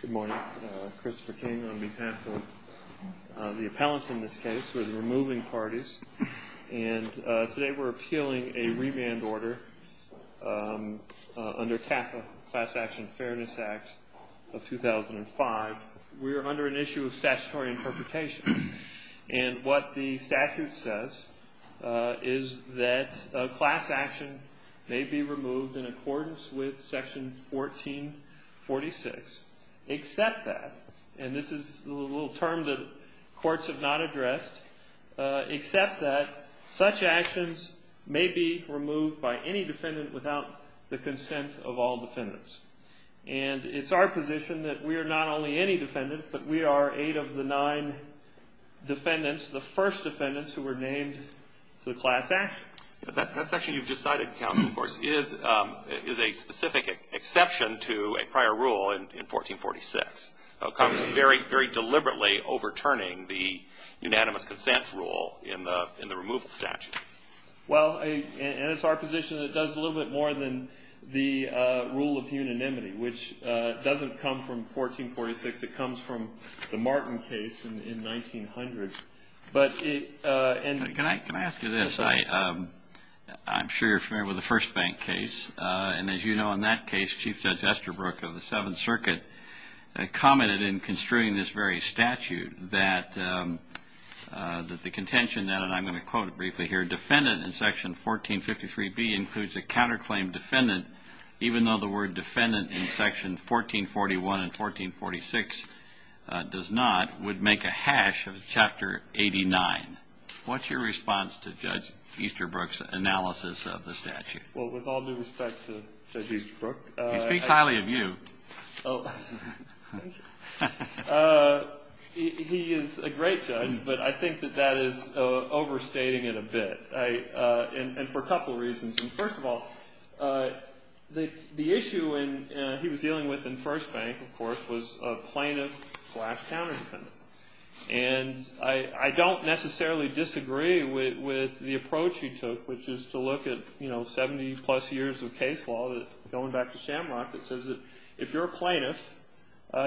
Good morning. Christopher King on behalf of the appellants in this case, who are the removing parties. And today we're appealing a remand order under CAFA, Class Action Fairness Act of 2005. We are under an issue of statutory interpretation. And what the statute says is that a class action may be removed in accordance with section 1446, except that, and this is a little term that courts have not addressed, except that such actions may be removed by any defendant without the consent of all defendants. And it's our position that we are not only any defendant, but we are eight of the nine defendants, the first defendants who were named to the class action. But that section you've just cited, counsel, of course, is a specific exception to a prior rule in 1446, very deliberately overturning the unanimous consent rule in the removal statute. Well, and it's our position that it does a little bit more than the rule of unanimity, which doesn't come from 1446. It comes from the Martin case in 1900. But it – Can I ask you this? I'm sure you're familiar with the First Bank case. And as you know, in that case, Chief Judge Estabrook of the Seventh Circuit commented in construing this very statute that the contention that, and I'm going to quote it briefly here, defendant in section 1453B includes a counterclaim defendant, even though the word defendant in section 1441 and 1446 does not, would make a hash of chapter 89. What's your response to Judge Easterbrook's analysis of the statute? Well, with all due respect to Judge Easterbrook – He speaks highly of you. Oh, thank you. He is a great judge, but I think that that is overstating it a bit, and for a couple reasons. First of all, the issue he was dealing with in First Bank, of course, was a plaintiff slash counterdefendant. And I don't necessarily disagree with the approach he took, which is to look at 70-plus years of case law, going back to Shamrock, that says that if you're a plaintiff,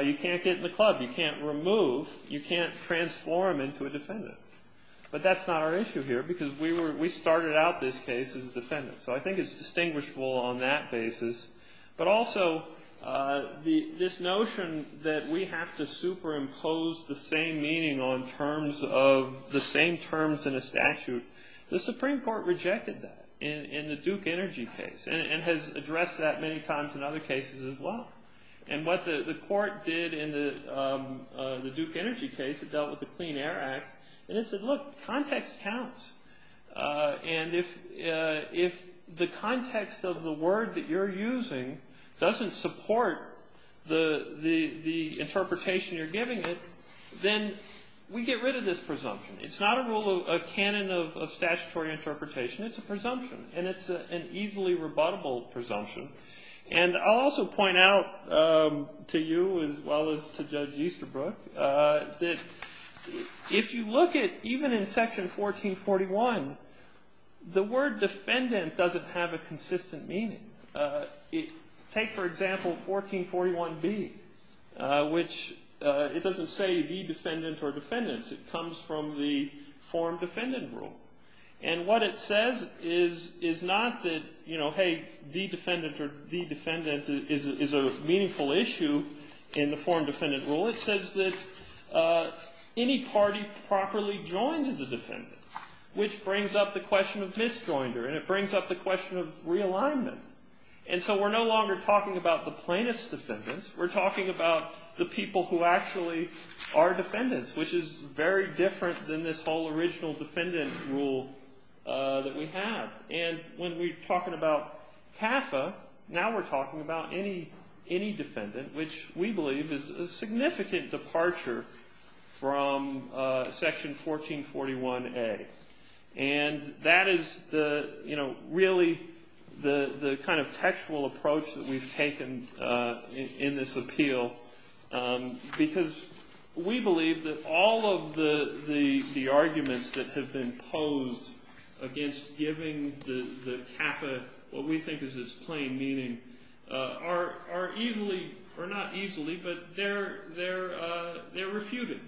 you can't get in the club, you can't remove, you can't transform into a defendant. But that's not our issue here, because we started out this case as a defendant. So I think it's distinguishable on that basis. But also, this notion that we have to superimpose the same meaning on terms of the same terms in a statute, the Supreme Court rejected that in the Duke Energy case, and has addressed that many times in other cases as well. And what the court did in the Duke Energy case, it dealt with the Clean Air Act, and it said, look, context counts. And if the context of the word that you're using doesn't support the interpretation you're giving it, then we get rid of this presumption. It's not a rule, a canon of statutory interpretation, it's a presumption. And it's an easily rebuttable presumption. And I'll also point out to you, as well as to Judge Easterbrook, that if you look at even in Section 1441, the word defendant doesn't have a consistent meaning. Take, for example, 1441B, which it doesn't say the defendant or defendants. It comes from the form defendant rule. And what it says is not that, you know, hey, the defendant or the defendant is a meaningful issue in the form defendant rule. It says that any party properly joined as a defendant, which brings up the question of misjoinder, and it brings up the question of realignment. And so we're no longer talking about the plaintiff's defendants. We're talking about the people who actually are defendants, which is very different than this whole original defendant rule that we have. And when we're talking about TAFA, now we're talking about any defendant, which we believe is a significant departure from Section 1441A. And that is the, you know, really the kind of textual approach that we've taken in this appeal, because we believe that all of the arguments that have been posed against giving the TAFA what we think is its plain meaning are easily, or not easily, but they're refuted.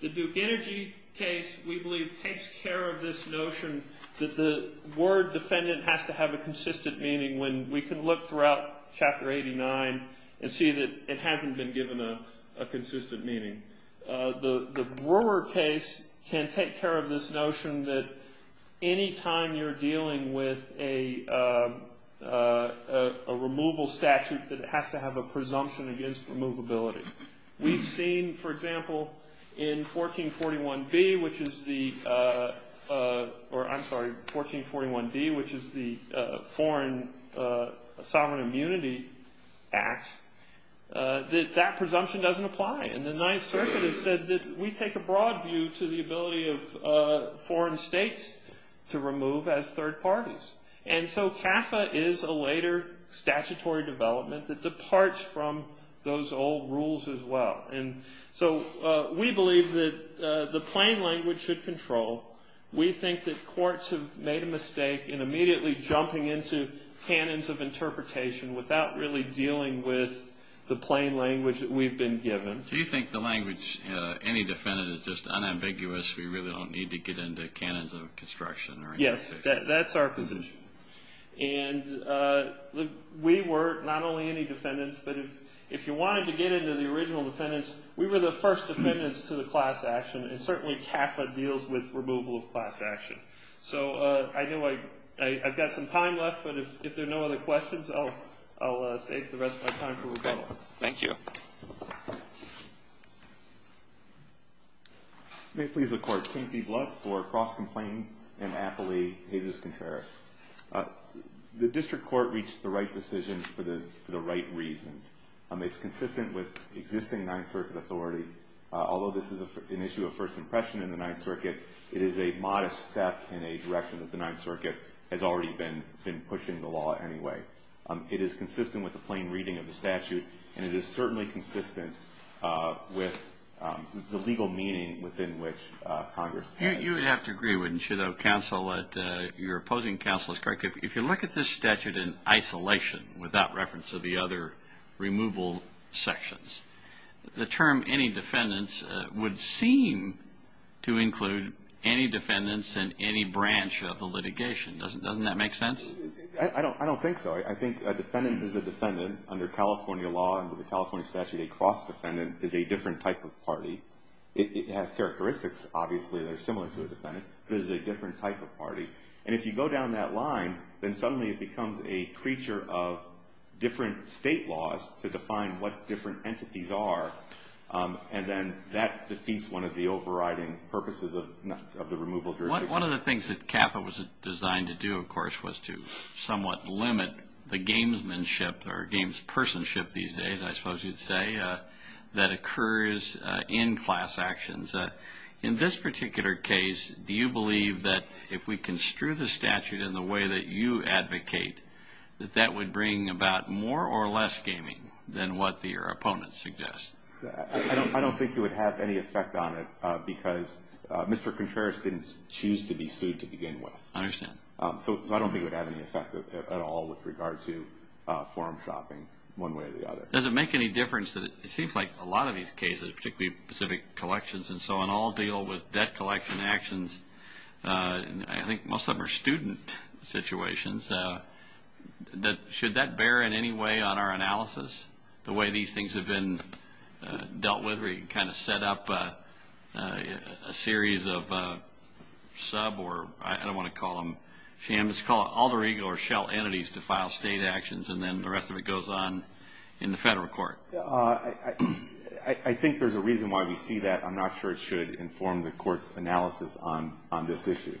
The Duke Energy case, we believe, takes care of this notion that the word defendant has to have a consistent meaning when we can look throughout Chapter 89 and see that it hasn't been given a consistent meaning. The Brewer case can take care of this notion that any time you're dealing with a removal statute, that it has to have a presumption against removability. We've seen, for example, in 1441B, which is the, or I'm sorry, 1441D, which is the Foreign Sovereign Immunity Act, that that presumption doesn't apply. And the Ninth Circuit has said that we take a broad view to the ability of foreign states to remove as third parties. And so TAFA is a later statutory development that departs from those old rules as well. And so we believe that the plain language should control. We think that courts have made a mistake in immediately jumping into canons of interpretation without really dealing with the plain language that we've been given. Do you think the language, any defendant, is just unambiguous, we really don't need to get into canons of construction or interpretation? Yes, that's our position. And we were, not only any defendants, but if you wanted to get into the original defendants, we were the first defendants to the class action, and certainly TAFA deals with removal of class action. So I know I've got some time left, but if there are no other questions, I'll save the rest of my time for recall. Thank you. Thank you. May it please the Court. King P. Blood for cross-complaint in Appley, Jesus Contreras. The district court reached the right decisions for the right reasons. It's consistent with existing Ninth Circuit authority. Although this is an issue of first impression in the Ninth Circuit, it is a modest step in a direction that the Ninth Circuit has already been pushing the law anyway. It is consistent with the plain reading of the statute, and it is certainly consistent with the legal meaning within which Congress has. You would have to agree, wouldn't you, though, counsel, that your opposing counsel is correct. If you look at this statute in isolation, without reference to the other removal sections, the term any defendants would seem to include any defendants in any branch of the litigation. Doesn't that make sense? I don't think so. I think a defendant is a defendant. Under California law, under the California statute, a cross-defendant is a different type of party. It has characteristics, obviously, that are similar to a defendant, but it is a different type of party. And if you go down that line, then suddenly it becomes a creature of different state laws to define what different entities are, and then that defeats one of the overriding purposes of the removal jurisdiction. One of the things that CAFA was designed to do, of course, was to somewhat limit the gamesmanship or gamespersonship these days, I suppose you'd say, that occurs in class actions. In this particular case, do you believe that if we construe the statute in the way that you advocate, that that would bring about more or less gaming than what your opponent suggests? I don't think it would have any effect on it because Mr. Contreras didn't choose to be sued to begin with. I understand. So I don't think it would have any effect at all with regard to forum shopping one way or the other. Does it make any difference that it seems like a lot of these cases, particularly Pacific Collections and so on, all deal with debt collection actions. I think most of them are student situations. Should that bear in any way on our analysis, the way these things have been dealt with, where you can kind of set up a series of sub or I don't want to call them shams, call it alter ego or shell entities to file state actions and then the rest of it goes on in the federal court? I think there's a reason why we see that. I'm not sure it should inform the court's analysis on this issue.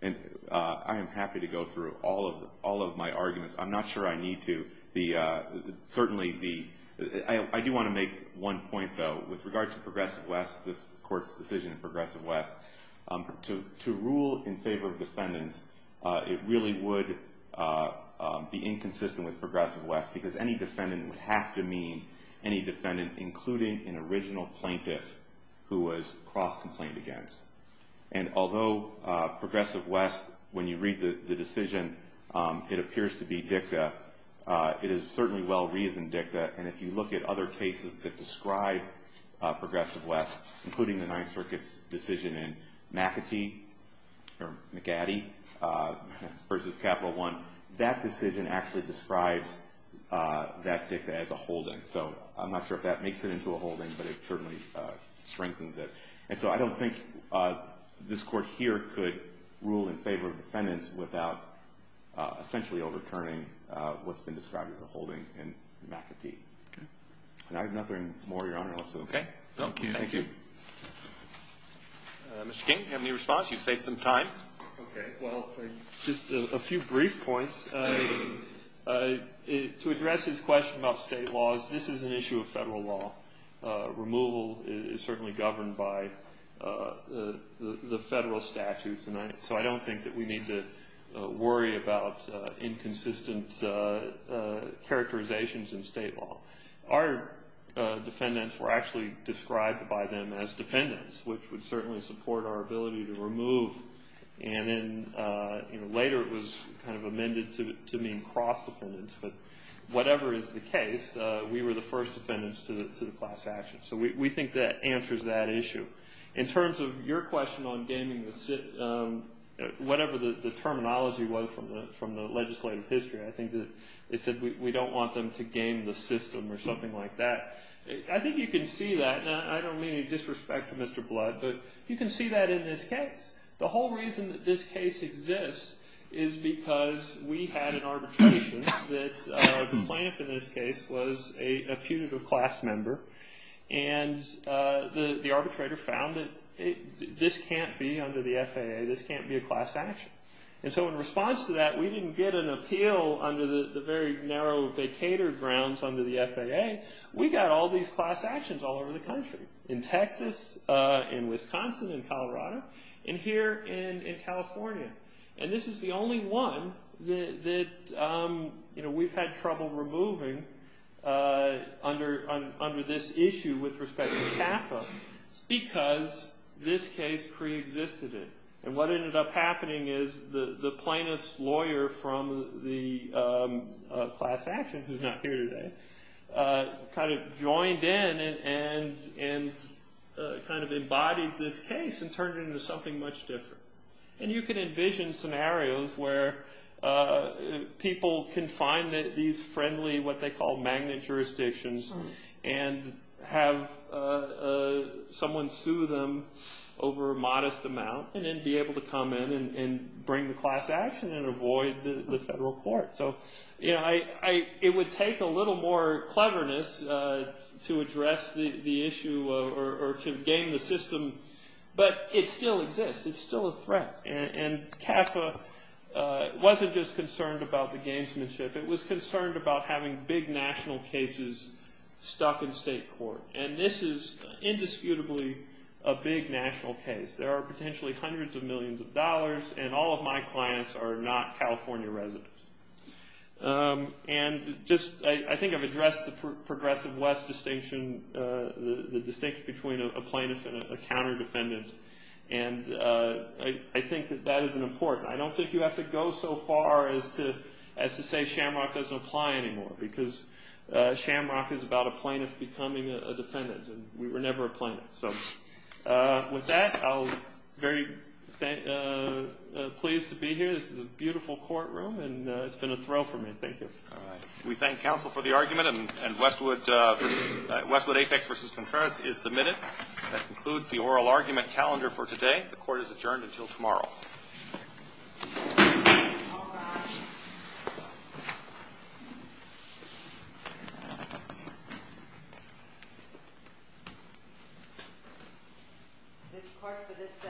And I am happy to go through all of my arguments. I'm not sure I need to. Certainly, I do want to make one point, though. With regard to Progressive West, this court's decision in Progressive West, to rule in favor of defendants, it really would be inconsistent with Progressive West because any defendant would have to mean any defendant, including an original plaintiff who was cross-complained against. And although Progressive West, when you read the decision, it appears to be dicta, it is certainly well-reasoned dicta. And if you look at other cases that describe Progressive West, including the Ninth Circuit's decision in McAtee versus Capital One, that decision actually describes that dicta as a holding. So I'm not sure if that makes it into a holding, but it certainly strengthens it. And so I don't think this court here could rule in favor of defendants without essentially overturning what's been described as a holding in McAtee. Okay. And I have nothing more, Your Honor. Okay. Thank you. Thank you. Mr. King, do you have any response? You've saved some time. Okay. Well, just a few brief points. To address his question about state laws, this is an issue of federal law. Removal is certainly governed by the federal statutes, so I don't think that we need to worry about inconsistent characterizations in state law. Our defendants were actually described by them as defendants, which would certainly support our ability to remove. And then later it was kind of amended to mean cross-defendants. But whatever is the case, we were the first defendants to the class action. So we think that answers that issue. In terms of your question on gaming the system, whatever the terminology was from the legislative history, I think that it said we don't want them to game the system or something like that. I think you can see that. And I don't mean any disrespect to Mr. Blood, but you can see that in this case. The whole reason that this case exists is because we had an arbitration that the plaintiff in this case was a putative class member, and the arbitrator found that this can't be under the FAA. This can't be a class action. And so in response to that, we didn't get an appeal under the very narrow vacated grounds under the FAA. We got all these class actions all over the country, in Texas, in Wisconsin, in Colorado. And here in California. And this is the only one that we've had trouble removing under this issue with respect to CAFA. It's because this case preexisted it. And what ended up happening is the plaintiff's lawyer from the class action, who's not here today, kind of joined in and kind of embodied this case and turned it into something much different. And you can envision scenarios where people can find these friendly, what they call magnet jurisdictions, and have someone sue them over a modest amount and then be able to come in and bring the class action and avoid the federal court. So it would take a little more cleverness to address the issue or to game the system. But it still exists. It's still a threat. And CAFA wasn't just concerned about the gamesmanship. It was concerned about having big national cases stuck in state court. And this is indisputably a big national case. There are potentially hundreds of millions of dollars, and all of my clients are not California residents. And I think I've addressed the progressive west distinction, the distinction between a plaintiff and a counter-defendant. And I think that that is important. I don't think you have to go so far as to say Shamrock doesn't apply anymore because Shamrock is about a plaintiff becoming a defendant, and we were never a plaintiff. So with that, I'm very pleased to be here. This is a beautiful courtroom, and it's been a thrill for me. Thank you. We thank counsel for the argument. And Westwood Apex v. Conference is submitted. That concludes the oral argument calendar for today. The court is adjourned until tomorrow. All rise. This court for this session is adjourned.